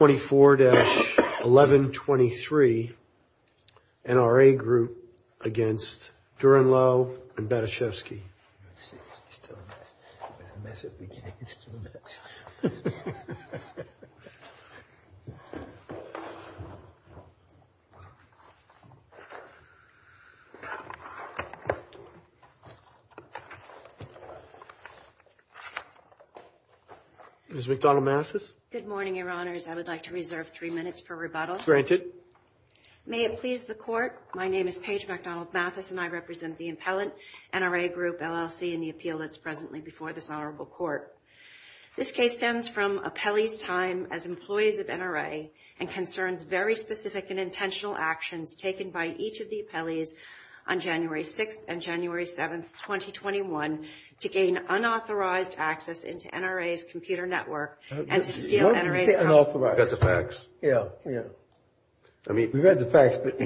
24-1123 NRA Group against Durenleau and Bateshevsky. Good morning, Your Honors. I would like to reserve three minutes for rebuttal. May it please the Court, my name is Paige McDonald-Mathis and I represent the impellant NRA Group LLC in the appeal that's presently before this honorable court. This case stems from Appellee's time as employees of NRA and concerns very specific and intentional actions taken by each of the appellees on January 6th and January 7th, 2021 to gain unauthorized access into NRA's computer network and to steal NRA's computer. We've got the facts. We've got the facts, but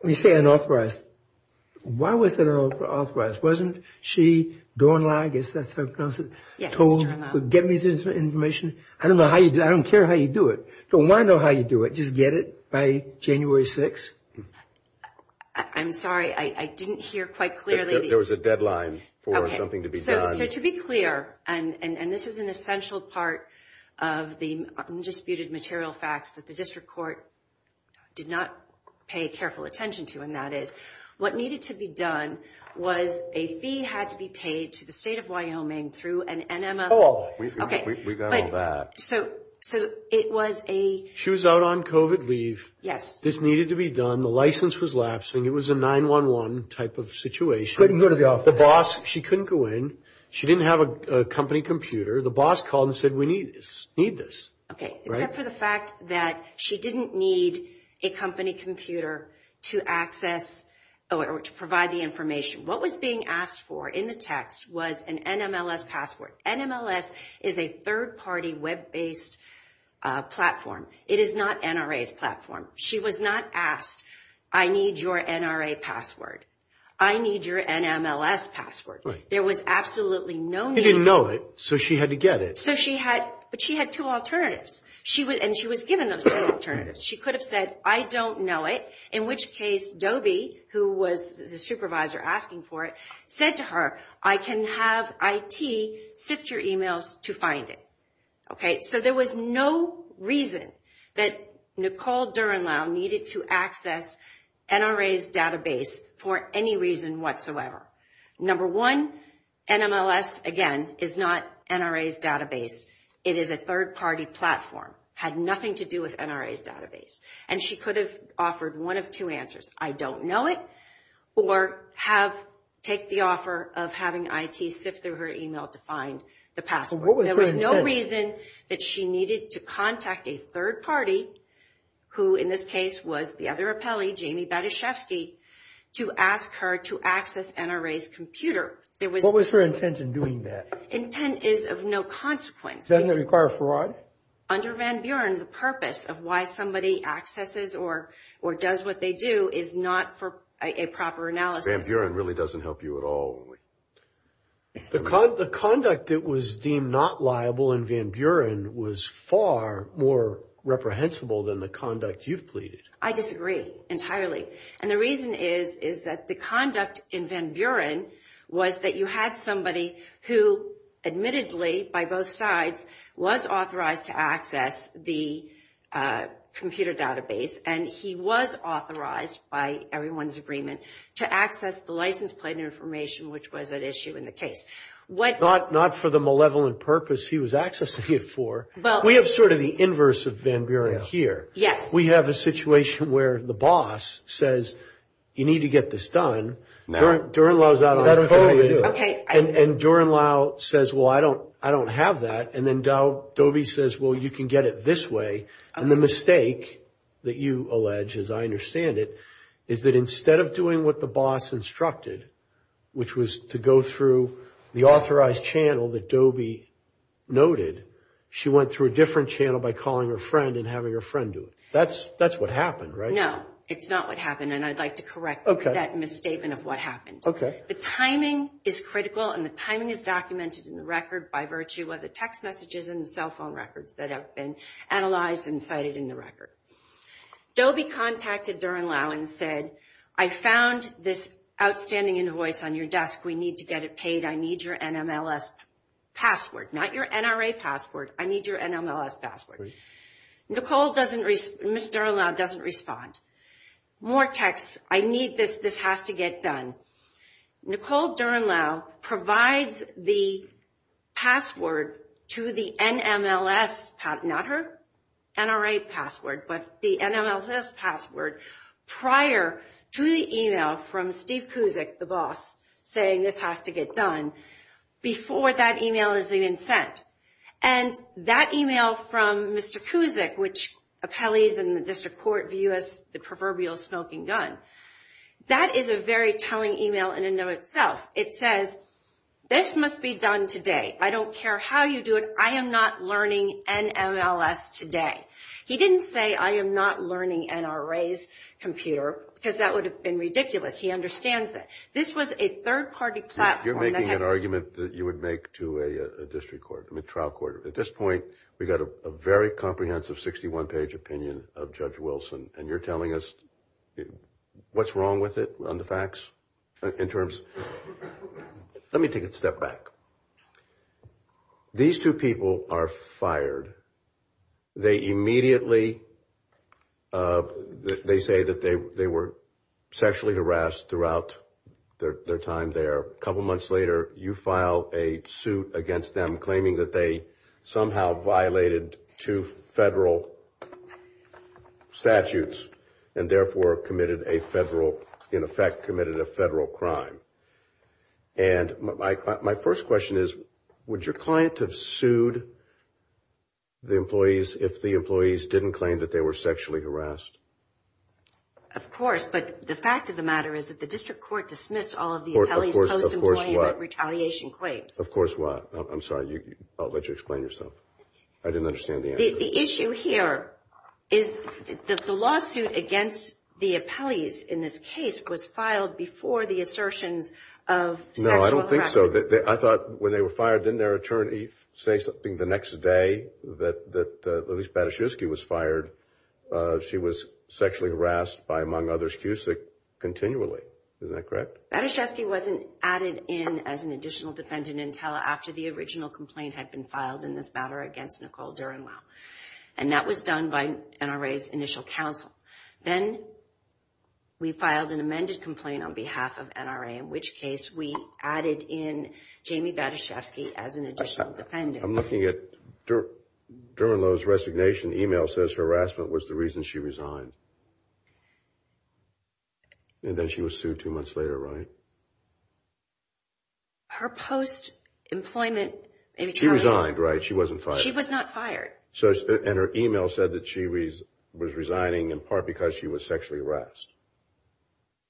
when you say unauthorized, why was it unauthorized? Wasn't she Durenleau, I guess that's how it's pronounced, told to get me this information? I don't care how you do it, don't want to know how you do it, just get it by January 6th? I'm sorry, I didn't hear quite clearly. There was a deadline for something to be done. So to be clear, and this is an essential part of the disputed material facts that the district court did not pay careful attention to, and that is, what needed to be done was a fee had to be paid to the state of Wyoming through an NMF... Oh, we've got all that. So it was a... She was out on COVID leave. Yes. This needed to be done. The license was lapsing. It was a 9-1-1 type of situation. Couldn't go to the office. The boss, she couldn't go in. She didn't have a company computer. The boss called and said, we need this. Okay, except for the fact that she didn't need a company computer to access or to provide the information. What was being asked for in the text was an NMLS password. NMLS is a third-party web-based platform. It is not NRA's platform. She was not asked, I need your NRA password. I need your NMLS password. There was absolutely no need... She didn't know it, so she had to get it. So she had, but she had two alternatives. She was, and she was given those two alternatives. She could have said, I don't know it, in which case, Dobie, who was the supervisor asking for it, said to her, I can have IT sift your emails to find it. Okay, so there was no reason that Nicole Durenlau needed to access NRA's database for any reason whatsoever. Number one, NMLS, again, is not NRA's database. It is a third-party platform, had nothing to do with NRA's database. And she could have offered one of two answers, I don't know it, or have, take the offer of having IT sift through her email to find the password. There was no reason that she needed to contact a third party, who in this case was the other appellee, Jamie Batyshevsky, to ask her to access NRA's computer. There was... What was her intent in doing that? Intent is of no consequence. Doesn't it require fraud? Under Van Buren, the purpose of why somebody accesses or does what they do is not for a proper analysis. Van Buren really doesn't help you at all. The conduct that was deemed not liable in Van Buren was far more reprehensible than the conduct you've pleaded. I disagree entirely. And the reason is, is that the conduct in Van Buren was that you had somebody who admittedly, by both sides, was authorized to access the computer database. And he was authorized by everyone's agreement to access the license plate information, which was at issue in the case. What... Not for the malevolent purpose he was accessing it for. Well... We have sort of the inverse of Van Buren here. Yes. We have a situation where the boss says, you need to get this done. Durenlouw's out on a collie. Okay. And Durenlouw says, well, I don't have that. And then Dobie says, well, you can get it this way. And the mistake that you allege, as I understand it, is that instead of doing what the boss instructed, which was to go through the authorized channel that Dobie noted, she went through a different channel by calling her friend and having her friend do it. That's what happened, right? No, it's not what happened. And I'd like to correct that misstatement of what happened. The timing is critical, and the timing is documented in the record by virtue of the text messages and the cell phone records that have been analyzed and cited in the record. Dobie contacted Durenlouw and said, I found this outstanding invoice on your desk. We need to get it paid. I need your NMLS password. Not your NRA password. I need your NMLS password. Nicole doesn't, Durenlouw doesn't respond. More texts. I need this. This has to get done. Nicole Durenlouw provides the password to the NMLS, not her NRA password, but the NMLS password prior to the email from Steve Kuzik, the boss, saying this has to get done before that email is even sent. And that email from Mr. Kuzik, which appellees in the district court view as the proverbial smoking gun, that is a very telling email in and of itself. It says, this must be done today. I don't care how you do it. I am not learning NMLS today. He didn't say, I am not learning NRA's computer, because that would have been ridiculous. He understands that. This was a third-party platform. You're making an argument that you would make to a district court, a trial court. At this point, we got a very comprehensive 61-page opinion of Judge Wilson, and you're telling us what's wrong with it on the facts in terms? Let me take a step back. These two people are fired. They immediately, they say that they were sexually harassed throughout their time there. A couple months later, you file a suit against them, claiming that they somehow violated two federal statutes and therefore committed a federal, in effect, committed a federal crime. And my first question is, would your client have sued the employees if the employees didn't claim that they were sexually harassed? Of course, but the fact of the matter is that the district court dismissed all of the appellee's post-employment retaliation claims. Of course what? I'm sorry, I'll let you explain yourself. I didn't understand the answer. The issue here is that the lawsuit against the appellees in this case was filed before the assertions of sexual harassment. No, I don't think so. I thought when they were fired, didn't their attorney say something the next day that, at least, Bataszewski was fired? She was sexually harassed by, among others, Cusick continually. Is that correct? Bataszewski wasn't added in as an additional defendant until after the original complaint had been filed in this matter against Nicole Durenlou. And that was done by NRA's initial counsel. Then we filed an amended complaint on behalf of NRA, in which case we added in Jamie Bataszewski as an additional defendant. I'm looking at Durenlou's resignation. The email says her harassment was the reason she resigned. And then she was sued two months later, right? Her post-employment... She resigned, right? She wasn't fired. She was not fired. And her email said that she was resigning in part because she was sexually harassed.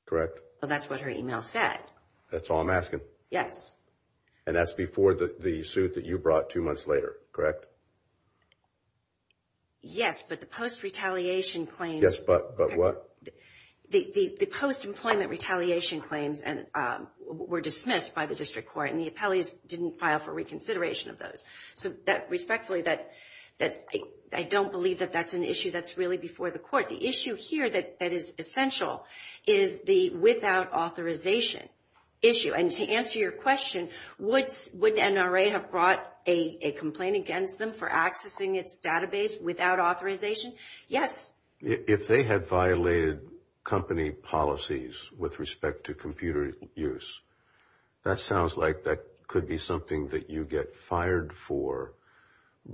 Correct? Well, that's what her email said. That's all I'm asking. Yes. And that's before the suit that you brought two months later, correct? Yes, but the post-retaliation claims... Yes, but what? The post-employment retaliation claims were dismissed by the District Court, and the appellees didn't file for reconsideration of those. So respectfully, I don't believe that that's an issue that's really before the court. The issue here that is essential is the without authorization issue. And to answer your question, would NRA have brought a complaint against them for accessing its database without authorization? Yes. If they had violated company policies with respect to computer use, that sounds like that could be something that you get fired for.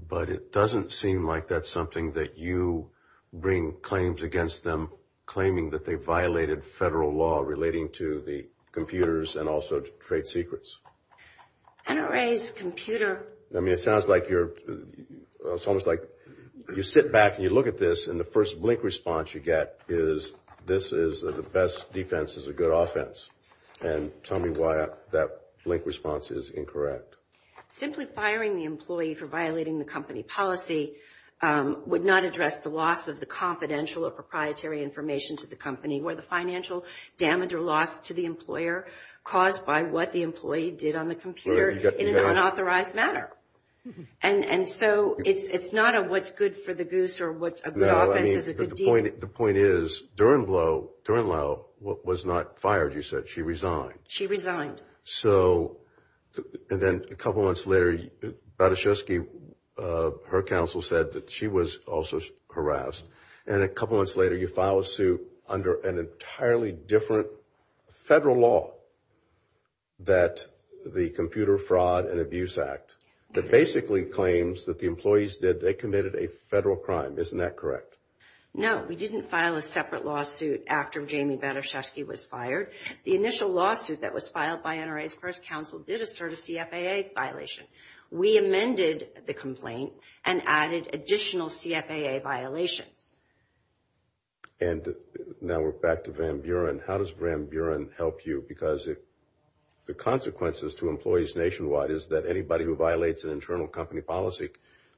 But it doesn't seem like that's something that you bring claims against them claiming that they violated federal law relating to the computers and also trade secrets. NRA's computer... I mean, it sounds like you're... It's almost like you sit back and you look at this, and the first blink response you get is, this is the best defense is a good offense. And tell me why that blink response is incorrect. Simply firing the employee for violating the company policy would not address the loss of the confidential or proprietary information to the company or the financial damage or loss to the employer caused by what the employee did on the computer in an unauthorized manner. And so it's not a what's good for the goose or what's a good offense is a good deed. The point is, Durenlo was not fired, you said. She resigned. She resigned. So, and then a couple months later, Badeshevsky, her counsel, said that she was also harassed. And a couple months later, you file a suit under an entirely different federal law that the Computer Fraud and Abuse Act that basically claims that the employees did, they committed a federal crime. Isn't that correct? No, we didn't file a separate lawsuit after Jamie Badeshevsky was fired. The initial lawsuit that was filed by NRA's first counsel did assert a CFAA violation. We amended the complaint and added additional CFAA violations. And now we're back to Van Buren. How does Van Buren help you? Because if the consequences to employees nationwide is that anybody who violates an internal company policy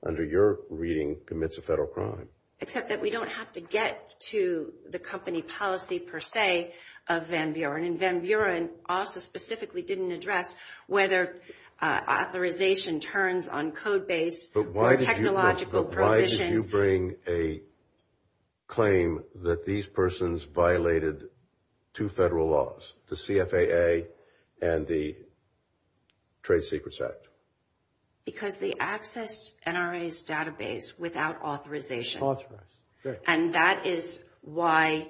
under your reading commits a federal crime. Except that we don't have to get to the company policy, per se, of Van Buren. And Van Buren also specifically didn't address whether authorization turns on code base or technological provisions. But why did you bring a claim that these persons violated two federal laws, the CFAA and the Trade Secrets Act? Because they accessed NRA's database without authorization. And that is why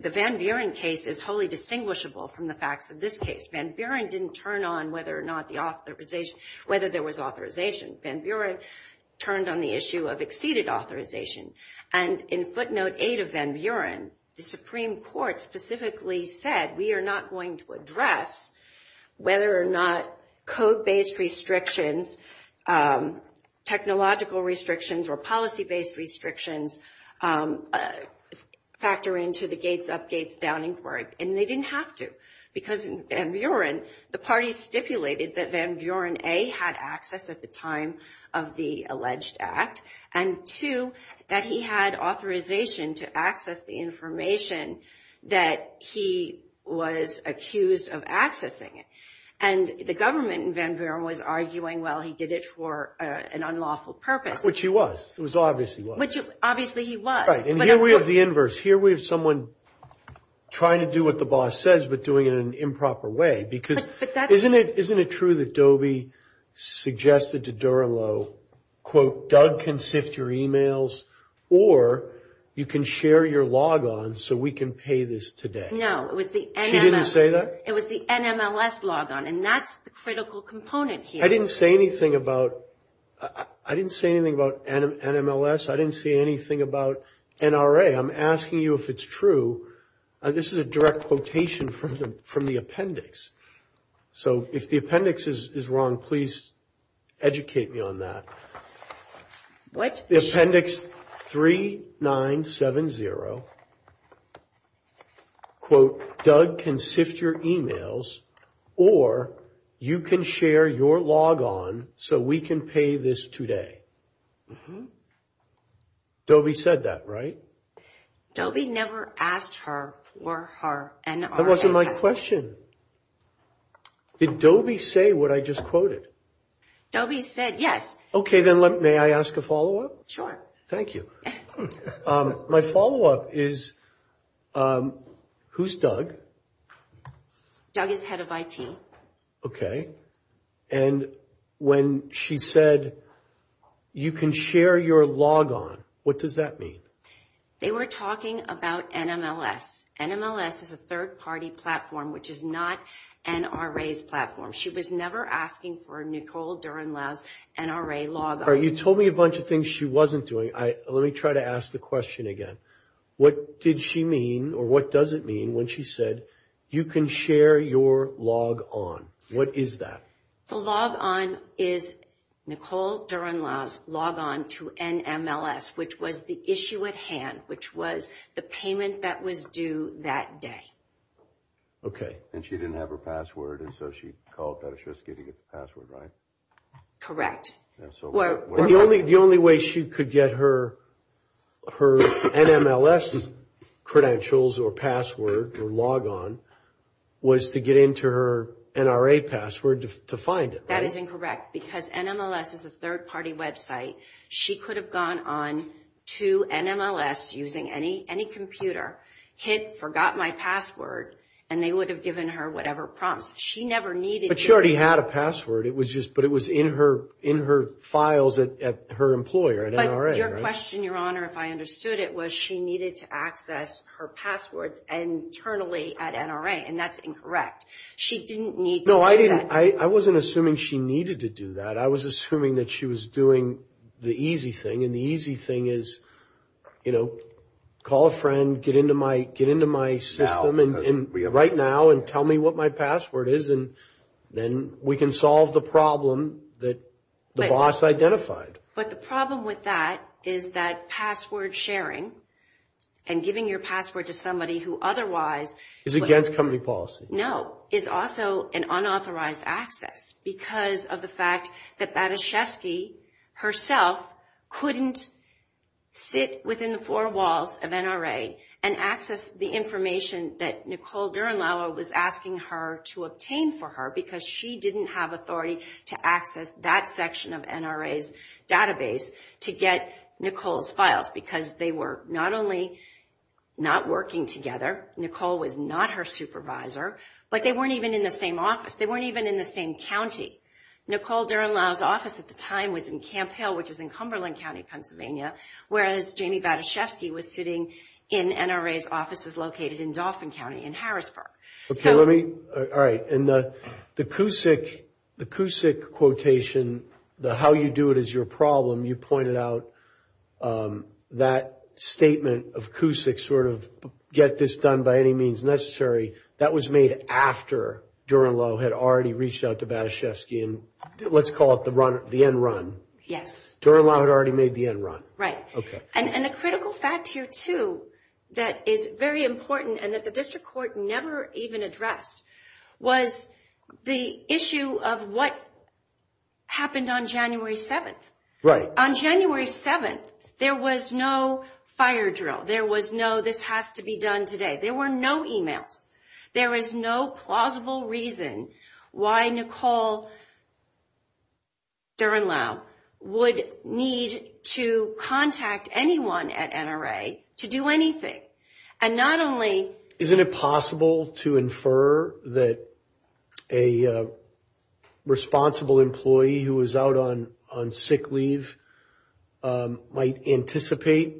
the Van Buren case is wholly distinguishable from the facts of this case. Van Buren didn't turn on whether or not the authorization, whether there was authorization. Van Buren turned on the issue of exceeded authorization. And in footnote 8 of Van Buren, the Supreme Court specifically said, we are not going to address whether or not code-based restrictions, technological restrictions, or policy-based restrictions factor into the gates-up-gates-down inquiry. And they didn't have to. Because in Van Buren, the parties stipulated that Van Buren, A, had access at the time of the alleged act. And two, that he had authorization to access the information that he was accused of accessing it. And the government in Van Buren was arguing, well, he did it for an unlawful purpose. Which he was. It was obvious he was. Which obviously he was. Right. And here we have the inverse. Here we have someone trying to do what the boss says, but doing it in an improper way. Because isn't it true that Doby suggested to Durand-Lo, quote, Doug can sift your emails, or you can share your log-ons so we can pay this today? No, it was the NMLS. She didn't say that? It was the NMLS log-on. And that's the critical component here. I didn't say anything about NMLS. I didn't say anything about NRA. I'm asking you if it's true. This is a direct quotation from the appendix. So if the appendix is wrong, please educate me on that. Appendix 3970, quote, Doug can sift your emails, or you can share your log-on so we can pay this today. Doby said that, right? Doby never asked her for her NRA. That wasn't my question. Did Doby say what I just quoted? Doby said yes. Okay, then may I ask a follow-up? Thank you. My follow-up is, who's Doug? Doug is head of IT. Okay. And when she said you can share your log-on, what does that mean? They were talking about NMLS. NMLS is a third-party platform, which is not NRA's platform. She was never asking for Nicole Durenlau's NRA log-on. All right, you told me a bunch of things she wasn't doing. Let me try to ask the question again. What did she mean, or what does it mean when she said, you can share your log-on? What is that? The log-on is Nicole Durenlau's log-on to NMLS, which was the issue at hand, which was the payment that was due that day. Okay. And she didn't have her password, and so she called Petoshevsky to get the password, right? Correct. The only way she could get her NMLS credentials, or password, or log-on, was to get into her NRA password to find it. That is incorrect, because NMLS is a third-party website. She could have gone on to NMLS using any computer, hit, forgot my password, and they would have given her whatever prompts. She never needed to. But she already had a password. It was just, but it was in her files at her employer, at NRA, right? But your question, Your Honor, if I understood it, was she needed to access her passwords internally at NRA, and that's incorrect. She didn't need to do that. No, I didn't, I wasn't assuming she needed to do that. I was assuming that she was doing the easy thing, and the easy thing is, you know, call a friend, get into my system right now, and tell me what my password is, and then we can solve the problem that the boss identified. But the problem with that is that password sharing, and giving your password to somebody who otherwise... Is against company policy. No, is also an unauthorized access, because of the fact that Bataszewski herself couldn't sit within the four walls of NRA, and access the information that Nicole Durenlau was asking her to obtain for her, because she didn't have authority to access that section of NRA's database to get Nicole's files, because they were not only not working together, Nicole was not her supervisor, but they weren't even in the same office. They weren't even in the same county. Nicole Durenlau's office at the time was in Camp Hale, which is in Cumberland County, Pennsylvania, whereas Jamie Bataszewski was sitting in NRA's offices located in Dauphin County in Harrisburg. Okay, let me... All right, and the CUSIC quotation, the how you do it is your problem, you pointed out that statement of CUSIC, sort of get this done by any means necessary, that was made after Durenlau had already reached out to Bataszewski, and let's call it the end run. Yes. Durenlau had already made the end run. Right. Okay. And the critical fact here, too, that is very important, and that the district court never even addressed, was the issue of what happened on January 7th. Right. On January 7th, there was no fire drill. There was no, this has to be done today. There were no emails. There is no plausible reason why Nicole Durenlau would need to contact anyone at NRA to do anything, and not only... Isn't it possible to infer that a responsible employee who was out on sick leave might anticipate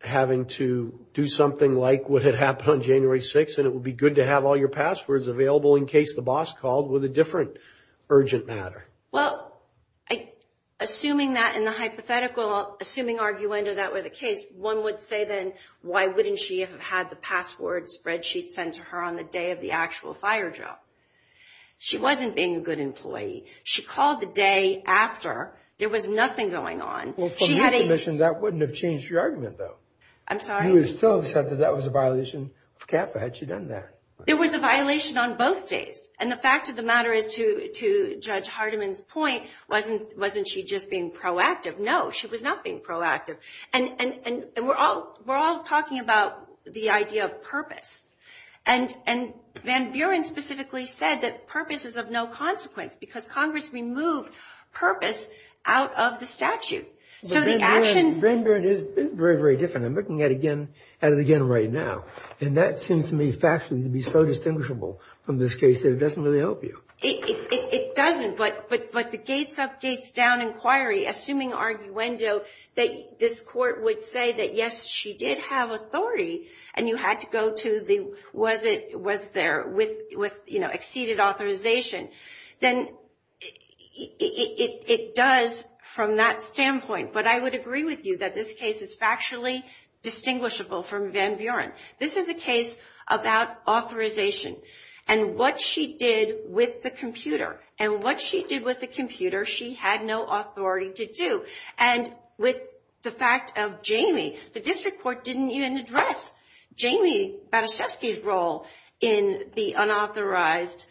having to do something like what had happened on January 6th, and it would be good to have all your passwords available in case the boss called with a different urgent matter? Well, assuming that in the hypothetical, assuming arguendo that were the case, one would say, then, why wouldn't she have had the password spreadsheet sent to her on the day of the actual fire drill? She wasn't being a good employee. She called the day after. There was nothing going on. Well, from your submissions, that wouldn't have changed your argument, though. I'm sorry? You would still have said that that was a violation of CAFA. Had she done that? There was a violation on both days. And the fact of the matter is, to Judge Hardiman's point, wasn't she just being proactive? No, she was not being proactive. And we're all talking about the idea of purpose. And Van Buren specifically said that purpose is of no consequence because Congress removed purpose out of the statute. So the actions... Van Buren is very, very different. I'm looking at it again right now. And that seems to me factually to be so distinguishable from this case that it doesn't really help you. It doesn't. But the gates-up, gates-down inquiry, assuming arguendo that this Court would say that, yes, she did have authority, and you had to go to the was-it-was-there with, you know, exceeded authorization, then it does from that standpoint. But I would agree with you that this case is factually distinguishable from Van Buren. This is a case about authorization and what she did with the computer. And what she did with the computer, she had no authority to do. And with the fact of Jamie, the District Court didn't even address Jamie Badaszewski's role in the unauthorized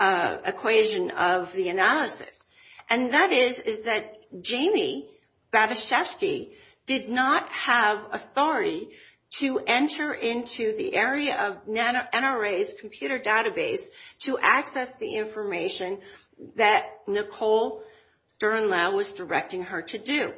equation of the analysis. And that is that Jamie Badaszewski did not have authority to enter into the area of NRA's computer database to access the information that Nicole Durnlau was directing her to do.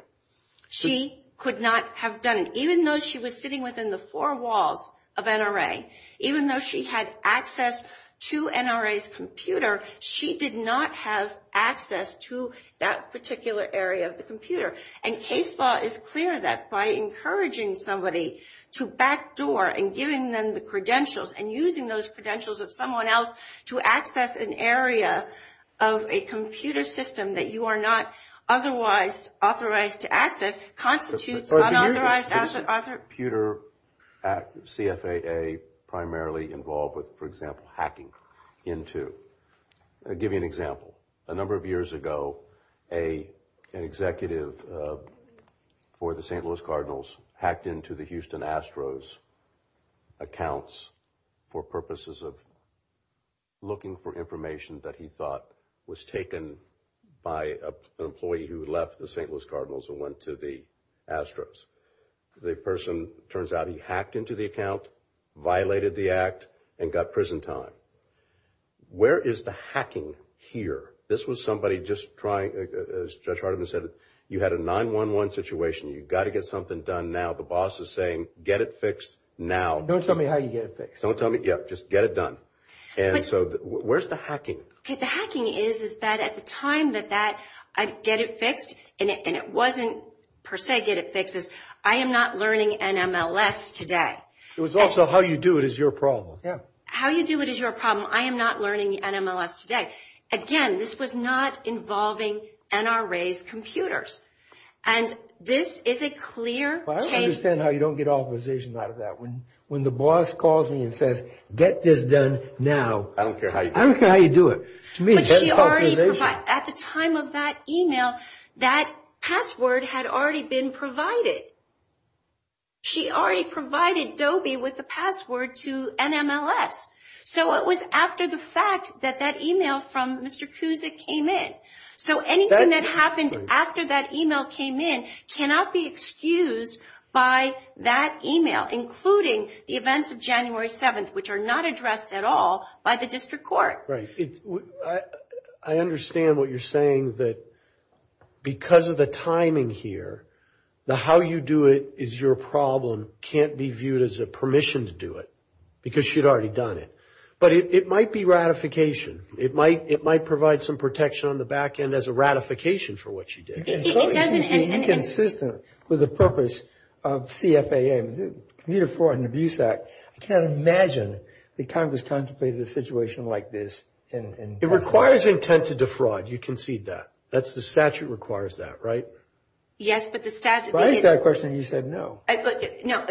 She could not have done it. Even though she was sitting within the four walls of NRA, even though she had access to NRA's computer, she did not have access to that particular area of the computer. And case law is clear that by encouraging somebody to backdoor and giving them the credentials and using those credentials of someone else to access an area of a computer system that you are not otherwise authorized to access constitutes unauthorized asset authorization. Computer CFAA primarily involved with, for example, hacking into. I'll give you an example. A number of years ago, an executive for the St. Louis Cardinals hacked into the Houston Astros accounts for purposes of looking for information that he thought was taken by an employee who left the St. Louis Cardinals and went to the Astros. The person, it turns out, he hacked into the account, violated the act, and got prison time. Where is the hacking here? This was somebody just trying, as Judge Hardiman said, you had a 9-1-1 situation. You've got to get something done now. The boss is saying, get it fixed now. Don't tell me how you get it fixed. Don't tell me, yeah, just get it done. And so where's the hacking? Okay, the hacking is that at the time that I get it fixed, and it wasn't per se get it fixed, I am not learning NMLS today. It was also how you do it is your problem. How you do it is your problem. I am not learning NMLS today. Again, this was not involving NRA's computers. And this is a clear case. I don't understand how you don't get authorization out of that. When the boss calls me and says, get this done now. I don't care how you do it. I don't care how you do it. But she already provided, at the time of that email, that password had already been provided. She already provided Dobie with the password to NMLS. So it was after the fact that that email from Mr. Kuzik came in. So anything that happened after that email came in cannot be excused by that email, including the events of January 7th, which are not addressed at all by the district court. Right. I understand what you're saying that because of the timing here, the how you do it is your problem can't be viewed as a permission to do it because she had already done it. But it might be ratification. It might provide some protection on the back end as a ratification for what she did. It doesn't. It's inconsistent with the purpose of CFAM, Commuter Fraud and Abuse Act. I can't imagine that Congress contemplated a situation like this. It requires intent to defraud. You concede that. That's the statute that requires that, right? Yes, but the statute. But I asked that question and you said no. No.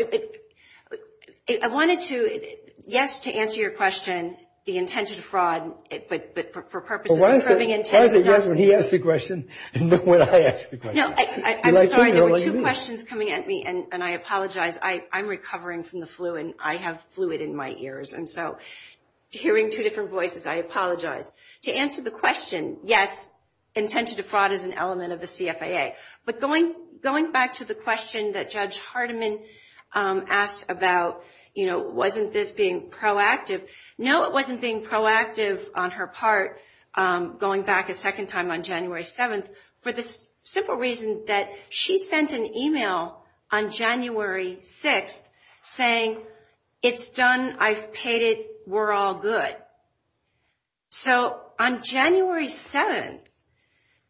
I wanted to, yes, to answer your question, the intent to defraud, but for purposes of proving intent. Why is it yes when he asks the question and no when I ask the question? No, I'm sorry. There were two questions coming at me, and I apologize. I'm recovering from the flu, and I have fluid in my ears. And so hearing two different voices, I apologize. To answer the question, yes, intent to defraud is an element of the CFAA. But going back to the question that Judge Hardiman asked about, you know, wasn't this being proactive, no, it wasn't being proactive on her part, going back a second time on January 7th, for the simple reason that she sent an email on January 6th saying, it's done, I've paid it, we're all good. So on January 7th,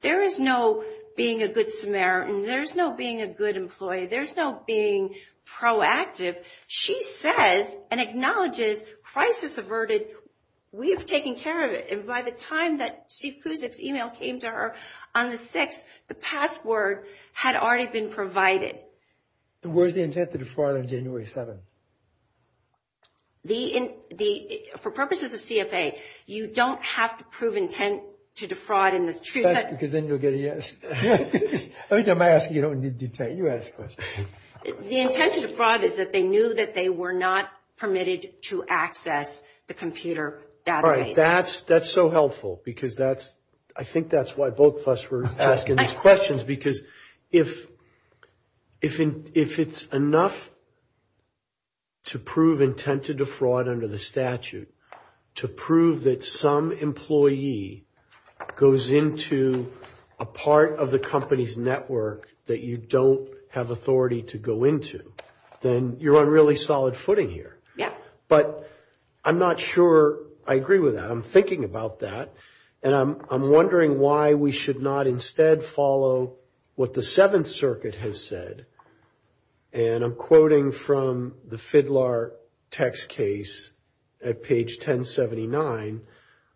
there is no being a good Samaritan, there's no being a good employee, there's no being proactive. She says and acknowledges crisis averted, we've taken care of it. And by the time that Chief Kuzik's email came to her on the 6th, the password had already been provided. Where's the intent to defraud on January 7th? For purposes of CFAA, you don't have to prove intent to defraud in the truth. Because then you'll get a yes. I mean, I'm asking you, you ask the question. The intent to defraud is that they knew that they were not permitted to access the computer database. That's so helpful, because that's, I think that's why both of us were asking these questions, because if it's enough to prove intent to defraud under the statute, to prove that some employee goes into a part of the company's network that you don't have authority to go into, then you're on really solid footing here. But I'm not sure I agree with that. I'm thinking about that. And I'm wondering why we should not instead follow what the Seventh Circuit has said. And I'm quoting from the FIDLAR text case at page 1079,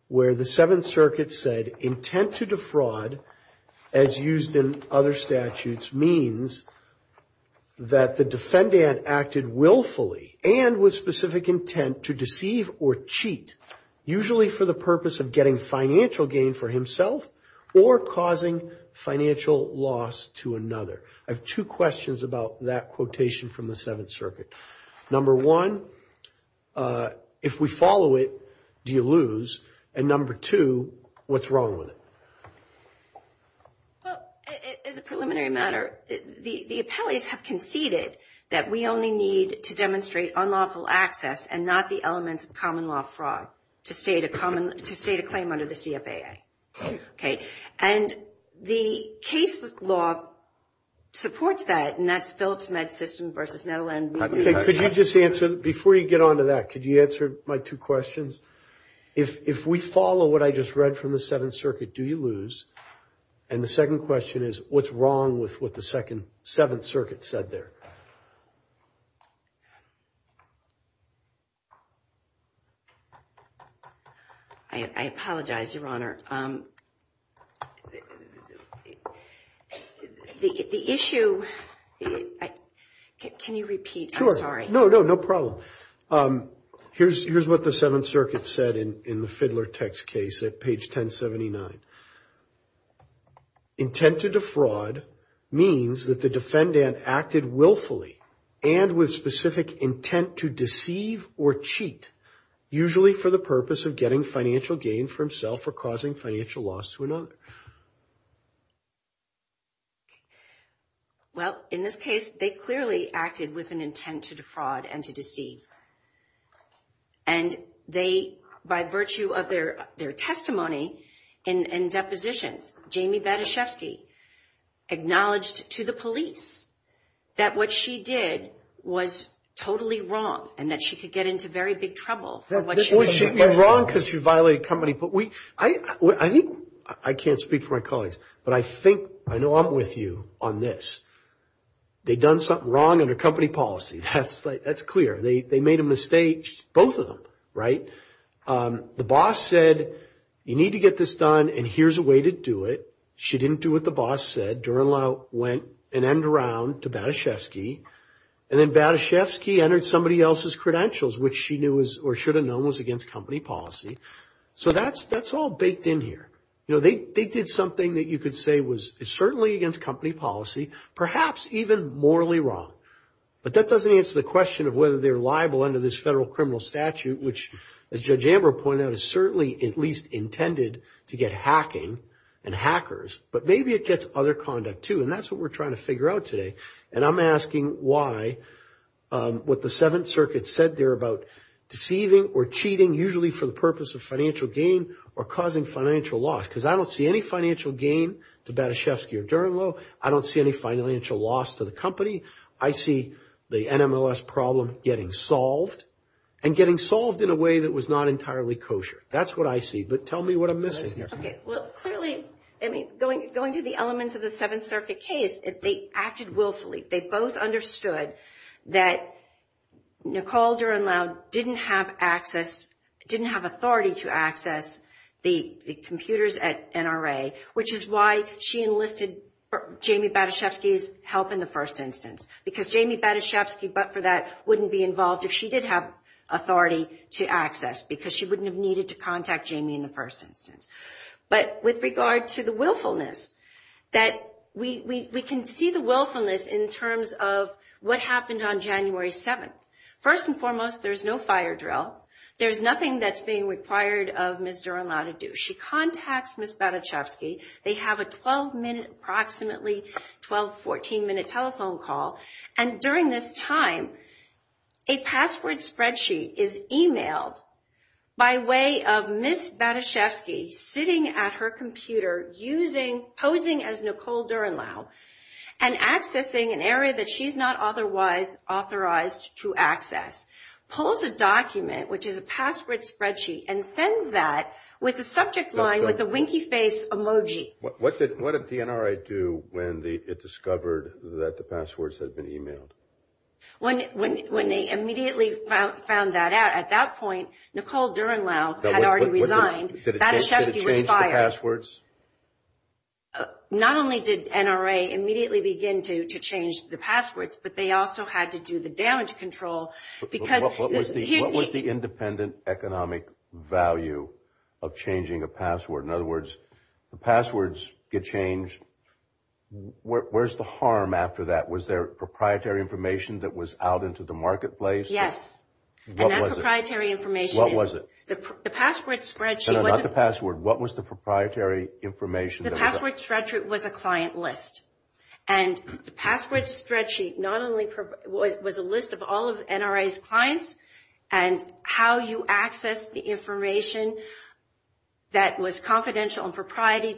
where the Seventh Circuit said, intent to defraud, as used in other statutes, means that the defendant acted willfully and with specific intent to deceive or cheat, usually for the purpose of getting financial gain for himself or causing financial loss to another. I have two questions about that quotation from the Seventh Circuit. Number one, if we follow it, do you lose? And number two, what's wrong with it? Well, as a preliminary matter, the appellees have conceded that we only need to demonstrate unlawful access and not the elements of common law fraud to state a claim under the CFAA. Okay. And the case law supports that, and that's Phillips Med System versus Netteland Media. Okay. Could you just answer, before you get on to that, could you answer my two questions? If we follow what I just read from the Seventh Circuit, do you lose? And the second question is, what's wrong with what the Seventh Circuit said there? I apologize, Your Honor. The issue, can you repeat? Sure. I'm sorry. No, no, no problem. Here's what the Seventh Circuit said in the Fidler text case at page 1079. Intent to defraud means that the defendant acted willfully and with specific intent to deceive or cheat, usually for the purpose of getting financial gain for himself or causing financial loss to another. Well, in this case, they clearly acted with an intent to defraud and to deceive. And they, by virtue of their testimony and depositions, Jamie Batyshevsky acknowledged to the police that what she did was totally wrong and that she could get into very big trouble for what she did. Wrong because she violated company. I think, I can't speak for my colleagues, but I think, I know I'm with you on this. They've done something wrong under company policy. That's clear. They made a mistake, both of them, right? The boss said, you need to get this done and here's a way to do it. She didn't do what the boss said. Durand-Lau went and ended around to Batyshevsky. And then Batyshevsky entered somebody else's credentials, which she knew or should have known was against company policy. So that's all baked in here. You know, they did something that you could say was certainly against company policy, perhaps even morally wrong. But that doesn't answer the question of whether they're liable under this federal criminal statute, which, as Judge Amber pointed out, is certainly at least intended to get hacking and hackers. But maybe it gets other conduct too, and that's what we're trying to figure out today. And I'm asking why, what the Seventh Circuit said there about deceiving or cheating, usually for the purpose of financial gain or causing financial loss. Because I don't see any financial gain to Batyshevsky or Durand-Lau. I don't see any financial loss to the company. I see the NMLS problem getting solved and getting solved in a way that was not entirely kosher. That's what I see. But tell me what I'm missing here. Well, clearly, I mean, going to the elements of the Seventh Circuit case, they acted willfully. They both understood that Nicole Durand-Lau didn't have access, didn't have authority to access the computers at NRA, which is why she enlisted Jamie Batyshevsky's help in the first instance. Because Jamie Batyshevsky, but for that, wouldn't be involved if she did have authority to access, because she wouldn't have needed to contact Jamie in the first instance. But with regard to the willfulness, that we can see the willfulness in terms of what happened on January 7th. First and foremost, there's no fire drill. There's nothing that's being required of Ms. Durand-Lau to do. She contacts Ms. Batyshevsky. They have a 12-minute, approximately 12, 14-minute telephone call. And during this time, a password spreadsheet is emailed by way of Ms. Batyshevsky sitting at her computer posing as Nicole Durand-Lau and accessing an area that she's not otherwise authorized to access. Pulls a document, which is a password spreadsheet, and sends that with a subject line with a winky face emoji. What did the NRA do when it discovered that the passwords had been emailed? When they immediately found that out, at that point, Nicole Durand-Lau had already resigned. Batyshevsky was fired. Did it change the passwords? Not only did NRA immediately begin to change the passwords, but they also had to do the damage control because What was the independent economic value of changing a password? In other words, the passwords get changed. Where's the harm after that? Was there proprietary information that was out into the marketplace? Yes. What was it? And that proprietary information is What was it? The password spreadsheet was No, not the password. What was the proprietary information? The password spreadsheet was a client list. And the password spreadsheet was a list of all of NRA's clients and how you access the information that was confidential and proprietary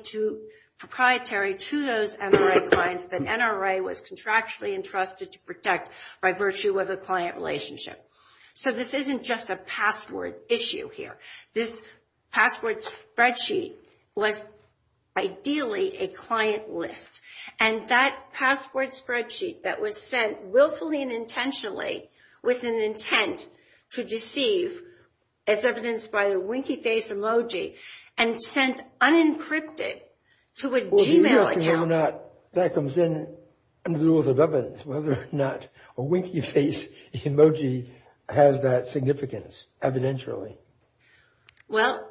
to those NRA clients that NRA was contractually entrusted to protect by virtue of a client relationship. So this isn't just a password issue here. This password spreadsheet was ideally a client list. And that password spreadsheet that was sent willfully and intentionally with an intent to deceive, as evidenced by the winky face emoji, and sent unencrypted to a Gmail account That comes in under the rules of evidence, whether or not a winky face emoji has that significance evidentially. Well,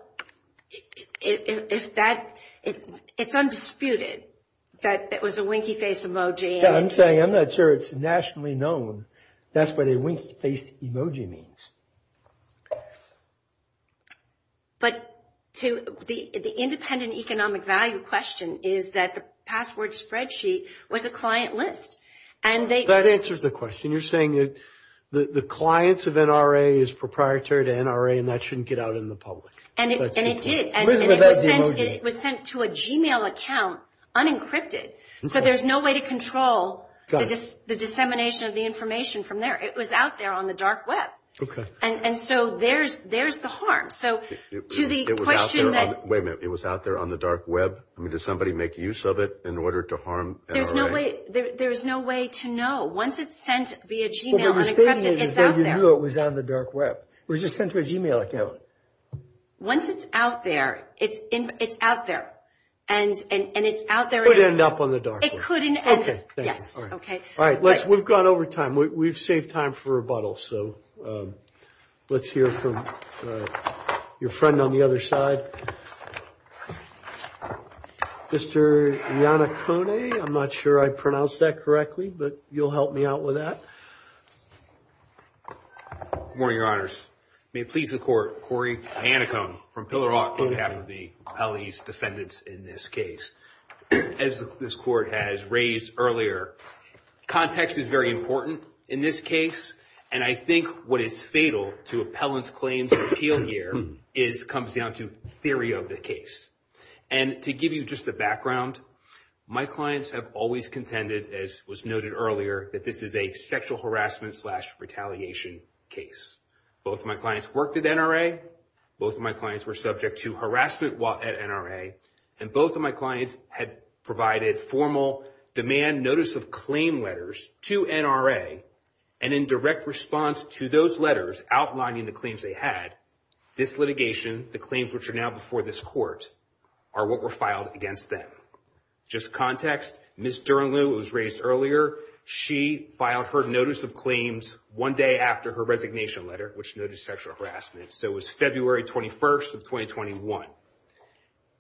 it's undisputed that it was a winky face emoji. I'm saying I'm not sure it's nationally known. That's what a winky face emoji means. But the independent economic value question is that the password spreadsheet was a client list. And they That answers the question. You're saying that the clients of NRA is proprietary to NRA and that shouldn't get out in the public. And it did. And it was sent to a Gmail account unencrypted. So there's no way to control the dissemination of the information from there. It was out there on the dark web. Okay. And so there's the harm. So to the question that Wait a minute. It was out there on the dark web? I mean, did somebody make use of it in order to harm NRA? There's no way to know. Once it's sent via Gmail unencrypted, it's out there. But what you're stating is that you knew it was on the dark web. It was just sent to a Gmail account. Once it's out there, it's out there. And it's out there It could end up on the dark web. It could end up. Okay. Yes. Okay. All right. We've gone over time. We've saved time for rebuttal. So let's hear from your friend on the other side. Mr. Iannacone. I'm not sure I pronounced that correctly, but you'll help me out with that. Good morning, Your Honors. May it please the Court, Corey Iannacone from Pillar Hawk and half of the appellees defendants in this case. As this Court has raised earlier, context is very important in this case. And I think what is fatal to appellants' claims of appeal here comes down to theory of the case. And to give you just the background, my clients have always contended, as was noted earlier, that this is a sexual harassment slash retaliation case. Both of my clients worked at NRA. Both of my clients were subject to harassment at NRA. And both of my clients had provided formal demand notice of claim letters to NRA. And in direct response to those letters outlining the claims they had, this litigation, the claims which are now before this Court, are what were filed against them. Just context, Ms. Durenlew, who was raised earlier, she filed her notice of claims one day after her resignation letter, which noted sexual harassment. So it was February 21st of 2021.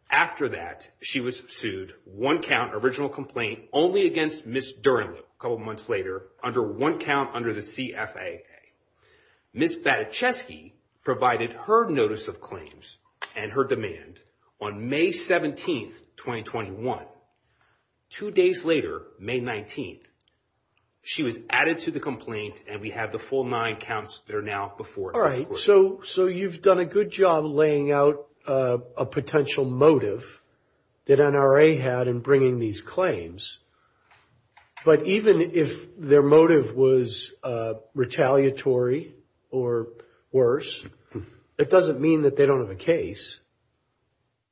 After that, she was sued, one count, original complaint, only against Ms. Durenlew, a couple months later, under one count under the CFAA. Ms. Badechesky provided her notice of claims and her demand on May 17th, 2021. Two days later, May 19th, she was added to the complaint, and we have the full nine counts that are now before this Court. So you've done a good job laying out a potential motive that NRA had in bringing these claims. But even if their motive was retaliatory or worse, it doesn't mean that they don't have a case.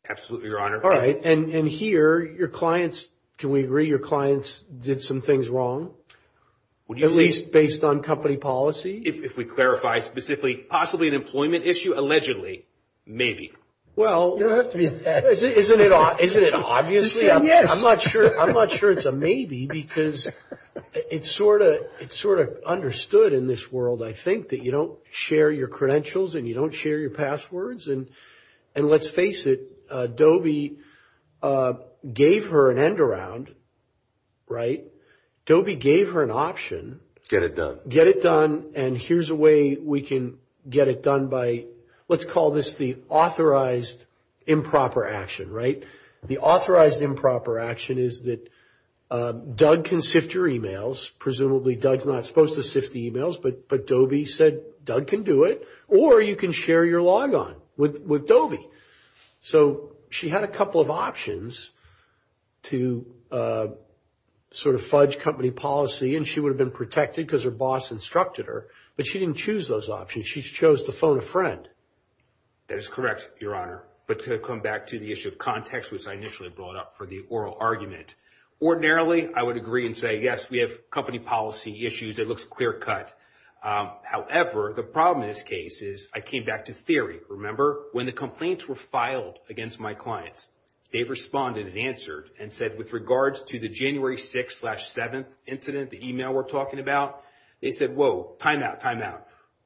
Absolutely, Your Honor. All right. And here, your clients, can we agree your clients did some things wrong? At least based on company policy? If we clarify specifically, possibly an employment issue, allegedly, maybe. Well, isn't it obvious? Yes. I'm not sure it's a maybe because it's sort of understood in this world, I think, that you don't share your credentials and you don't share your passwords. And let's face it, Dobie gave her an end around, right? Dobie gave her an option. Get it done. Get it done. And here's a way we can get it done by, let's call this the authorized improper action, right? The authorized improper action is that Doug can sift your emails. Presumably, Doug's not supposed to sift the emails, but Dobie said, Doug can do it, or you can share your logon with Dobie. So she had a couple of options to sort of fudge company policy, and she would have been protected because her boss instructed her, but she didn't choose those options. She chose to phone a friend. That is correct, Your Honor. But to come back to the issue of context, which I initially brought up for the oral argument, ordinarily I would agree and say, yes, we have company policy issues. It looks clear cut. However, the problem in this case is I came back to theory. Remember, when the complaints were filed against my clients, they responded and answered and said, with regards to the January 6th-7th incident, the email we're talking about, they said, whoa, timeout, timeout.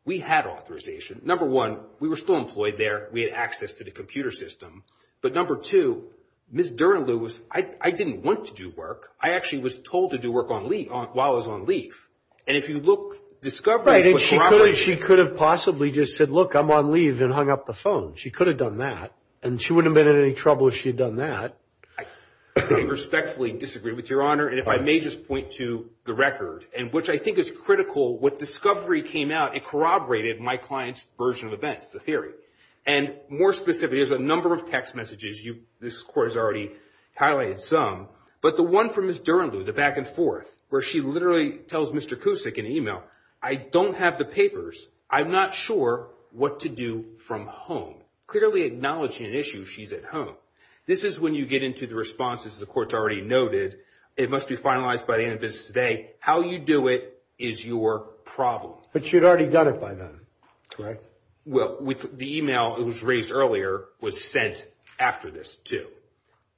We had authorization. Number one, we were still employed there. We had access to the computer system. But number two, Ms. Durenlew, I didn't want to do work. I actually was told to do work while I was on leave. And if you look, discovery was property. Right, and she could have possibly just said, look, I'm on leave and hung up the phone. She could have done that, and she wouldn't have been in any trouble if she had done that. I respectfully disagree with Your Honor, and if I may just point to the record, which I think is critical, what discovery came out, it corroborated my client's version of events, the theory. And more specifically, there's a number of text messages. This Court has already highlighted some. But the one from Ms. Durenlew, the back and forth, where she literally tells Mr. Cusick in the email, I don't have the papers. I'm not sure what to do from home. Clearly acknowledging an issue, she's at home. This is when you get into the response, as the Court's already noted. It must be finalized by the end of business today. How you do it is your problem. But she had already done it by then, correct? Well, the email that was raised earlier was sent after this too.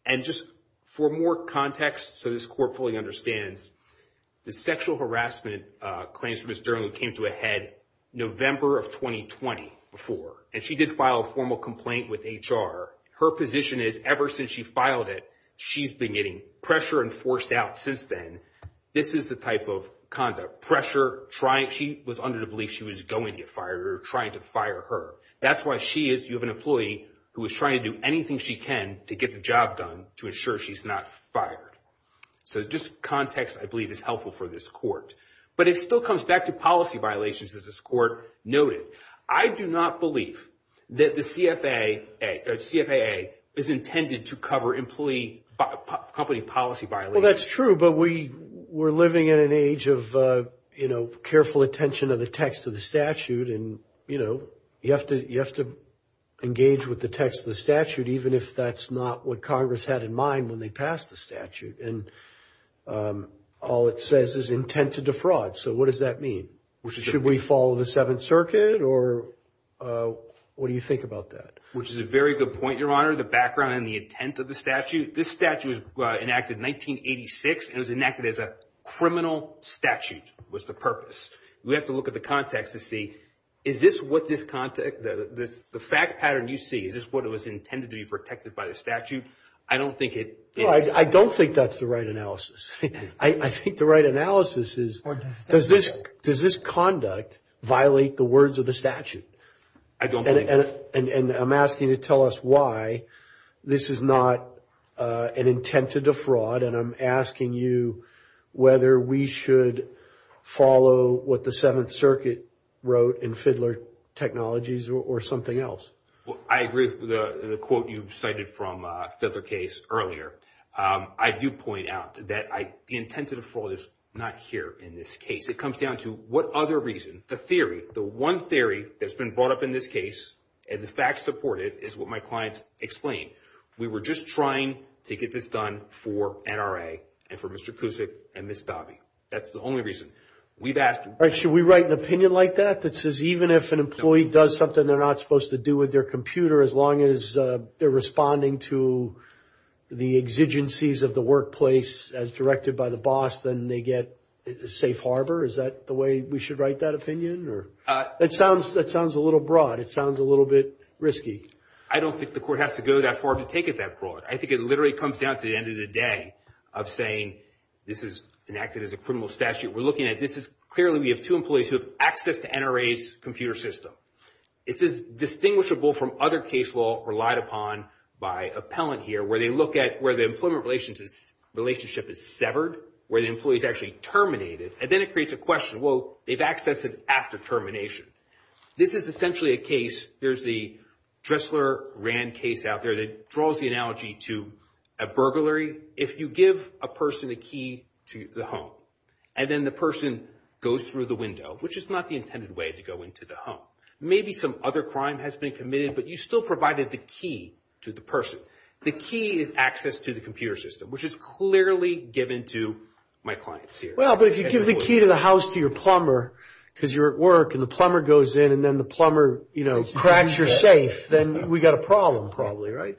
And just for more context, so this Court fully understands, the sexual harassment claims from Ms. Durenlew came to a head November of 2020 before. And she did file a formal complaint with HR. Her position is, ever since she filed it, she's been getting pressure and forced out since then. This is the type of conduct, pressure, trying, she was under the belief she was going to get fired or trying to fire her. That's why she is, you have an employee who is trying to do anything she can to get the job done, to ensure she's not fired. So just context, I believe, is helpful for this Court. But it still comes back to policy violations, as this Court noted. I do not believe that the CFAA is intended to cover employee, company policy violations. Well, that's true. But we're living in an age of, you know, careful attention of the text of the statute. And, you know, you have to engage with the text of the statute, even if that's not what Congress had in mind when they passed the statute. And all it says is intent to defraud. So what does that mean? Should we follow the Seventh Circuit, or what do you think about that? Which is a very good point, Your Honor, the background and the intent of the statute. This statute was enacted in 1986, and it was enacted as a criminal statute was the purpose. We have to look at the context to see, is this what this context, the fact pattern you see, is this what it was intended to be protected by the statute? I don't think it is. I don't think that's the right analysis. I think the right analysis is, does this conduct violate the words of the statute? I don't believe it. And I'm asking you to tell us why this is not an intent to defraud, and I'm asking you whether we should follow what the Seventh Circuit wrote in Fidler Technologies or something else. I agree with the quote you've cited from Fidler Case earlier. I do point out that the intent to defraud is not here in this case. It comes down to what other reason. The theory, the one theory that's been brought up in this case, and the facts support it, is what my clients explained. We were just trying to get this done for NRA and for Mr. Cusick and Ms. Dahby. That's the only reason. We've asked them. Should we write an opinion like that that says even if an employee does something they're not supposed to do with their computer as long as they're responding to the exigencies of the workplace as directed by the boss, then they get safe harbor? Is that the way we should write that opinion? That sounds a little broad. It sounds a little bit risky. I don't think the court has to go that far to take it that broad. I think it literally comes down to the end of the day of saying this is enacted as a criminal statute. We're looking at this as clearly we have two employees who have access to NRA's computer system. This is distinguishable from other case law relied upon by appellant here where they look at where the employment relationship is severed, where the employee is actually terminated, and then it creates a question. Well, they've accessed it after termination. This is essentially a case. There's the Dressler-Rand case out there that draws the analogy to a burglary. If you give a person a key to the home and then the person goes through the window, which is not the intended way to go into the home, maybe some other crime has been committed, but you still provided the key to the person. The key is access to the computer system, which is clearly given to my clients here. Well, but if you give the key to the house to your plumber because you're at work and the plumber goes in and then the plumber cracks your safe, then we've got a problem probably, right?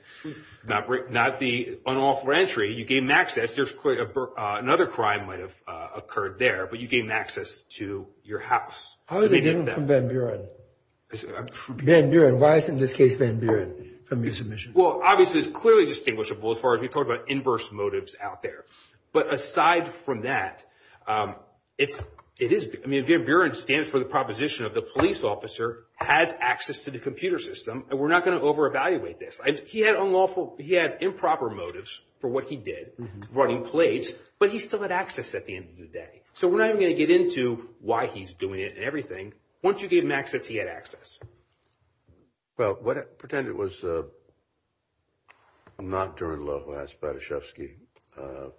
Not the unlawful entry. You gave them access. Another crime might have occurred there, but you gave them access to your house. How is it different from Van Buren? Van Buren, why isn't this case Van Buren from your submission? Well, obviously, it's clearly distinguishable as far as we talk about inverse motives out there. But aside from that, it is – I mean, Van Buren stands for the proposition of the police officer has access to the computer system, and we're not going to over-evaluate this. He had improper motives for what he did, running plates, but he still had access at the end of the day. So we're not even going to get into why he's doing it and everything. Once you gave him access, he had access. Well, what – pretend it was – not during the law who asked Batashevsky to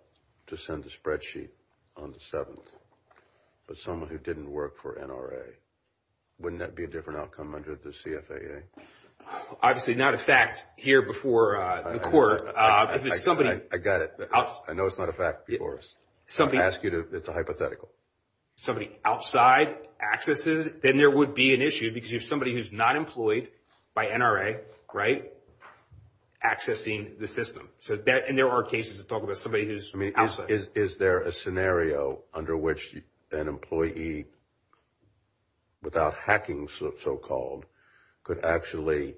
send the spreadsheet on the 7th, but someone who didn't work for NRA. Wouldn't that be a different outcome under the CFAA? Obviously, not a fact here before the court. If there's somebody – I got it. I know it's not a fact before us. I'm going to ask you to – it's a hypothetical. Somebody outside accesses, then there would be an issue because you have somebody who's not employed by NRA, right, accessing the system. And there are cases that talk about somebody who's outside. I mean, is there a scenario under which an employee, without hacking so-called, could actually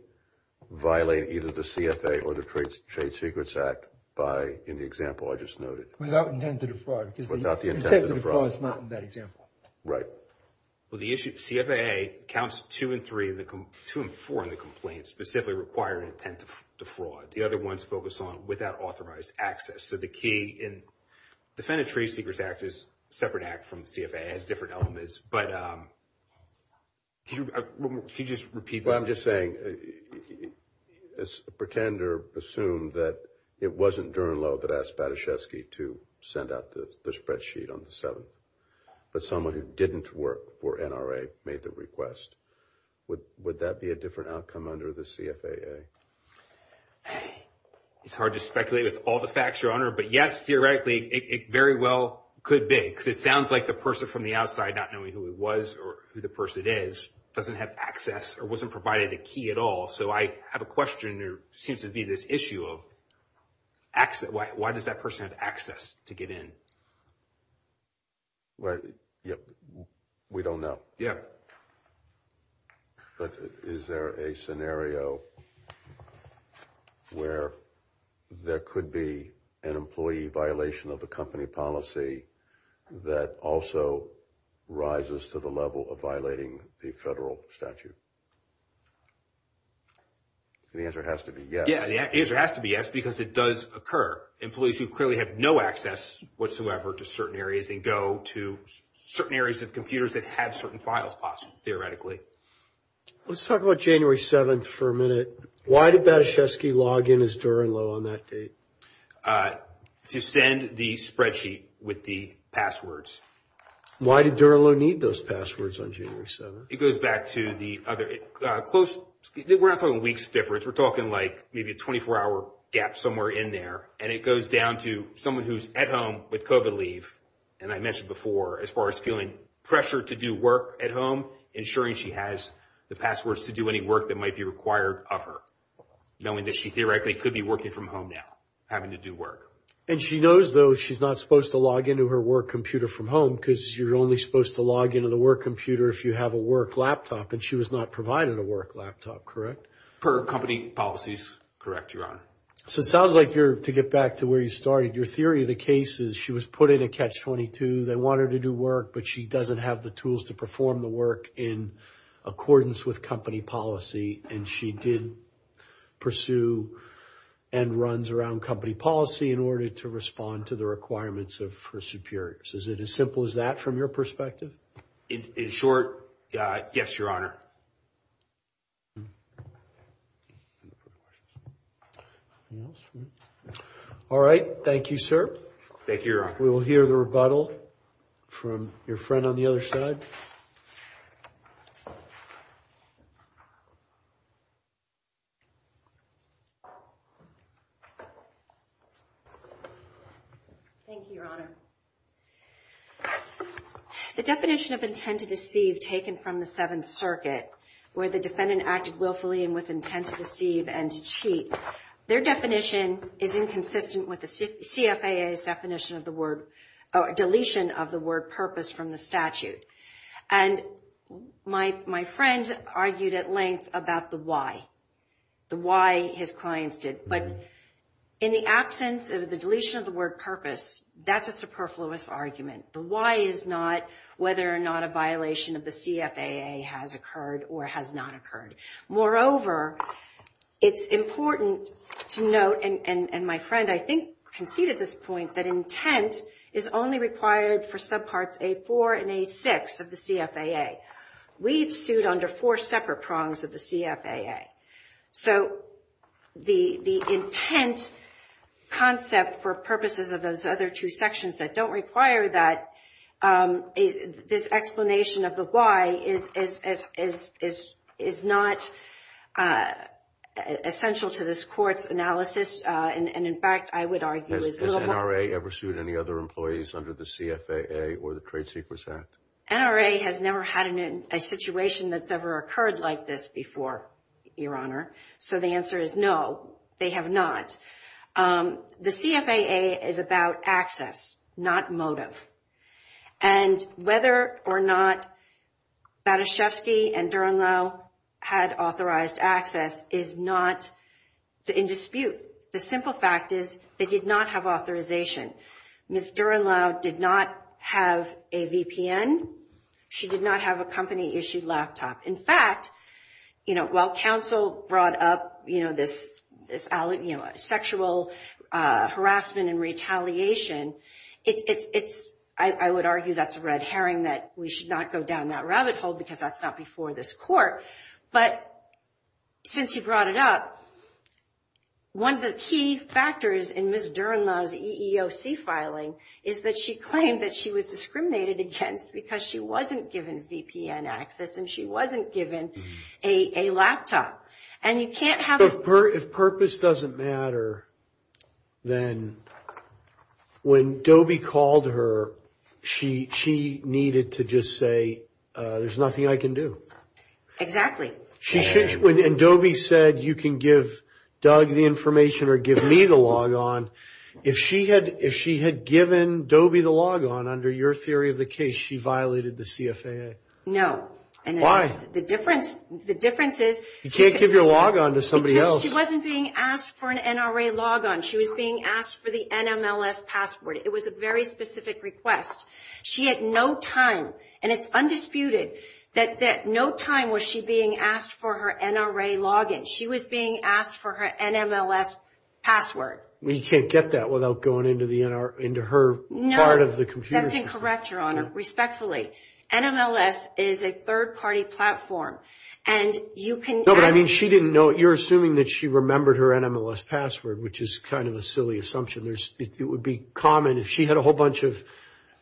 violate either the CFAA or the Trade Secrets Act by – in the example I just noted? Without intent to defraud. Without the intent to defraud. Because the intent to defraud is not in that example. Right. Well, the issue – CFAA counts two and three in the – two and four in the complaint, specifically requiring intent to defraud. The other ones focus on without authorized access. So the key in – the Defendant Trade Secrets Act is a separate act from the CFAA. It has different elements. But could you just repeat that? What I'm just saying is a pretender assumed that it wasn't Durnlow that asked Pataszewski to send out the spreadsheet on the 7th, but someone who didn't work for NRA made the request. Would that be a different outcome under the CFAA? It's hard to speculate with all the facts, Your Honor. But, yes, theoretically, it very well could be because it sounds like the person from the outside, not knowing who it was or who the person is, doesn't have access or wasn't provided a key at all. So I have a question. There seems to be this issue of access. Why does that person have access to get in? Well, we don't know. But is there a scenario where there could be an employee violation of the company policy that also rises to the level of violating the federal statute? The answer has to be yes. Yeah, the answer has to be yes because it does occur. Employees who clearly have no access whatsoever to certain areas and go to certain areas of computers that have certain files possible, theoretically. Let's talk about January 7th for a minute. Why did Pataszewski log in as Durnlow on that date? To send the spreadsheet with the passwords. Why did Durnlow need those passwords on January 7th? It goes back to the other close. We're not talking weeks difference. We're talking like maybe a 24-hour gap somewhere in there. And it goes down to someone who's at home with COVID leave. And I mentioned before, as far as feeling pressure to do work at home, ensuring she has the passwords to do any work that might be required of her, knowing that she theoretically could be working from home now, having to do work. And she knows, though, she's not supposed to log into her work computer from home because you're only supposed to log into the work computer if you have a work laptop. And she was not provided a work laptop, correct? Per company policies, correct, Your Honor. So it sounds like you're, to get back to where you started, your theory of the case is she was put in a catch-22. They want her to do work, but she doesn't have the tools to perform the work in accordance with company policy. And she did pursue and runs around company policy in order to respond to the requirements of her superiors. Is it as simple as that from your perspective? In short, yes, Your Honor. All right. Thank you, sir. Thank you, Your Honor. We will hear the rebuttal from your friend on the other side. Thank you, Your Honor. The definition of intent to deceive taken from the Seventh Circuit, where the defendant acted willfully and with intent to deceive and to cheat, their definition is inconsistent with the CFAA's definition of the word, or deletion of the word purpose from the statute. And my friend argued at length about the why, the why his clients did. But in the absence of the deletion of the word purpose, that's a superfluous argument. The why is not whether or not a violation of the CFAA has occurred or has not occurred. Moreover, it's important to note, and my friend I think conceded this point, that intent is only required for subparts A4 and A6 of the CFAA. We've sued under four separate prongs of the CFAA. So the intent concept for purposes of those other two sections that don't require that, this explanation of the why is not essential to this court's analysis, and in fact I would argue is a little more. Has NRA ever sued any other employees under the CFAA or the Trade Secrets Act? NRA has never had a situation that's ever occurred like this before, Your Honor. So the answer is no, they have not. The CFAA is about access, not motive. And whether or not Batashevsky and Durenlou had authorized access is not in dispute. The simple fact is they did not have authorization. Ms. Durenlou did not have a VPN. She did not have a company-issued laptop. In fact, while counsel brought up this sexual harassment and retaliation, I would argue that's a red herring that we should not go down that rabbit hole because that's not before this court. But since you brought it up, one of the key factors in Ms. Durenlou's EEOC filing is that she claimed that she was discriminated against because she wasn't given VPN access and she wasn't given a laptop. And you can't have a... But if purpose doesn't matter, then when Dobie called her, she needed to just say, there's nothing I can do. Exactly. And Dobie said, you can give Doug the information or give me the logon. If she had given Dobie the logon, under your theory of the case, she violated the CFAA? No. Why? The difference is... You can't give your logon to somebody else. Because she wasn't being asked for an NRA logon. She was being asked for the NMLS password. It was a very specific request. She had no time, and it's undisputed, that no time was she being asked for her NRA login. She was being asked for her NMLS password. You can't get that without going into her part of the computer. No, that's incorrect, Your Honor, respectfully. NMLS is a third-party platform, and you can ask... No, but I mean, she didn't know. You're assuming that she remembered her NMLS password, which is kind of a silly assumption. It would be common, if she had a whole bunch of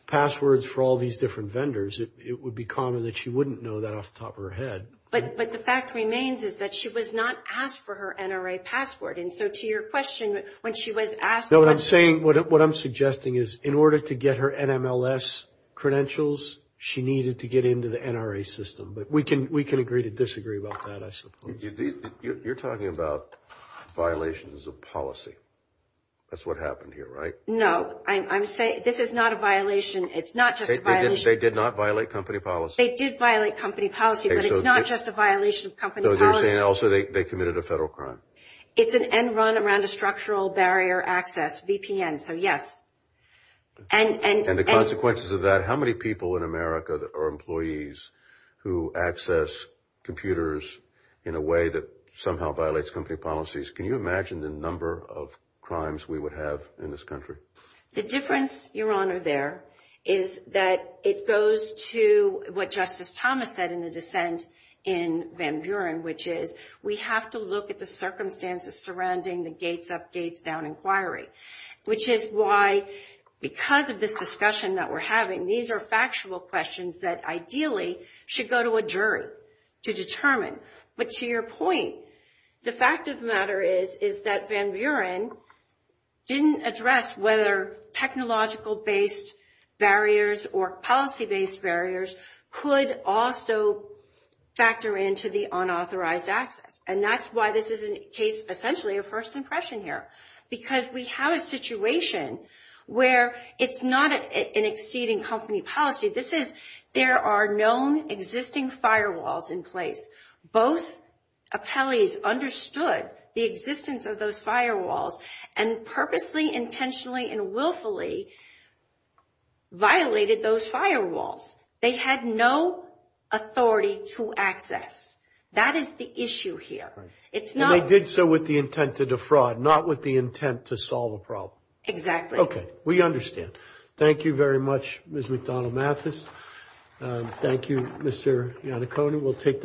passwords for all these different vendors, it would be common that she wouldn't know that off the top of her head. But the fact remains is that she was not asked for her NRA password. And so to your question, when she was asked... I'm saying what I'm suggesting is in order to get her NMLS credentials, she needed to get into the NRA system. But we can agree to disagree about that, I suppose. You're talking about violations of policy. That's what happened here, right? No, I'm saying this is not a violation. It's not just a violation. They did not violate company policy? They did violate company policy, but it's not just a violation of company policy. So you're saying also they committed a federal crime? It's an end run around a structural barrier access, VPN, so yes. And the consequences of that, how many people in America are employees who access computers in a way that somehow violates company policies? Can you imagine the number of crimes we would have in this country? The difference, Your Honor, there is that it goes to what Justice Thomas said in the dissent in Van Buren, which is we have to look at the circumstances surrounding the Gates Up, Gates Down inquiry, which is why because of this discussion that we're having, these are factual questions that ideally should go to a jury to determine. But to your point, the fact of the matter is, is that Van Buren didn't address whether technological-based barriers or policy-based barriers could also factor into the unauthorized access. And that's why this is essentially a first impression here, because we have a situation where it's not an exceeding company policy. This is there are known existing firewalls in place. Both appellees understood the existence of those firewalls and purposely, intentionally, and willfully violated those firewalls. They had no authority to access. That is the issue here. And they did so with the intent to defraud, not with the intent to solve a problem. Exactly. Okay. We understand. Thank you very much, Ms. McDonnell-Mathis. Thank you, Mr. Iannacone.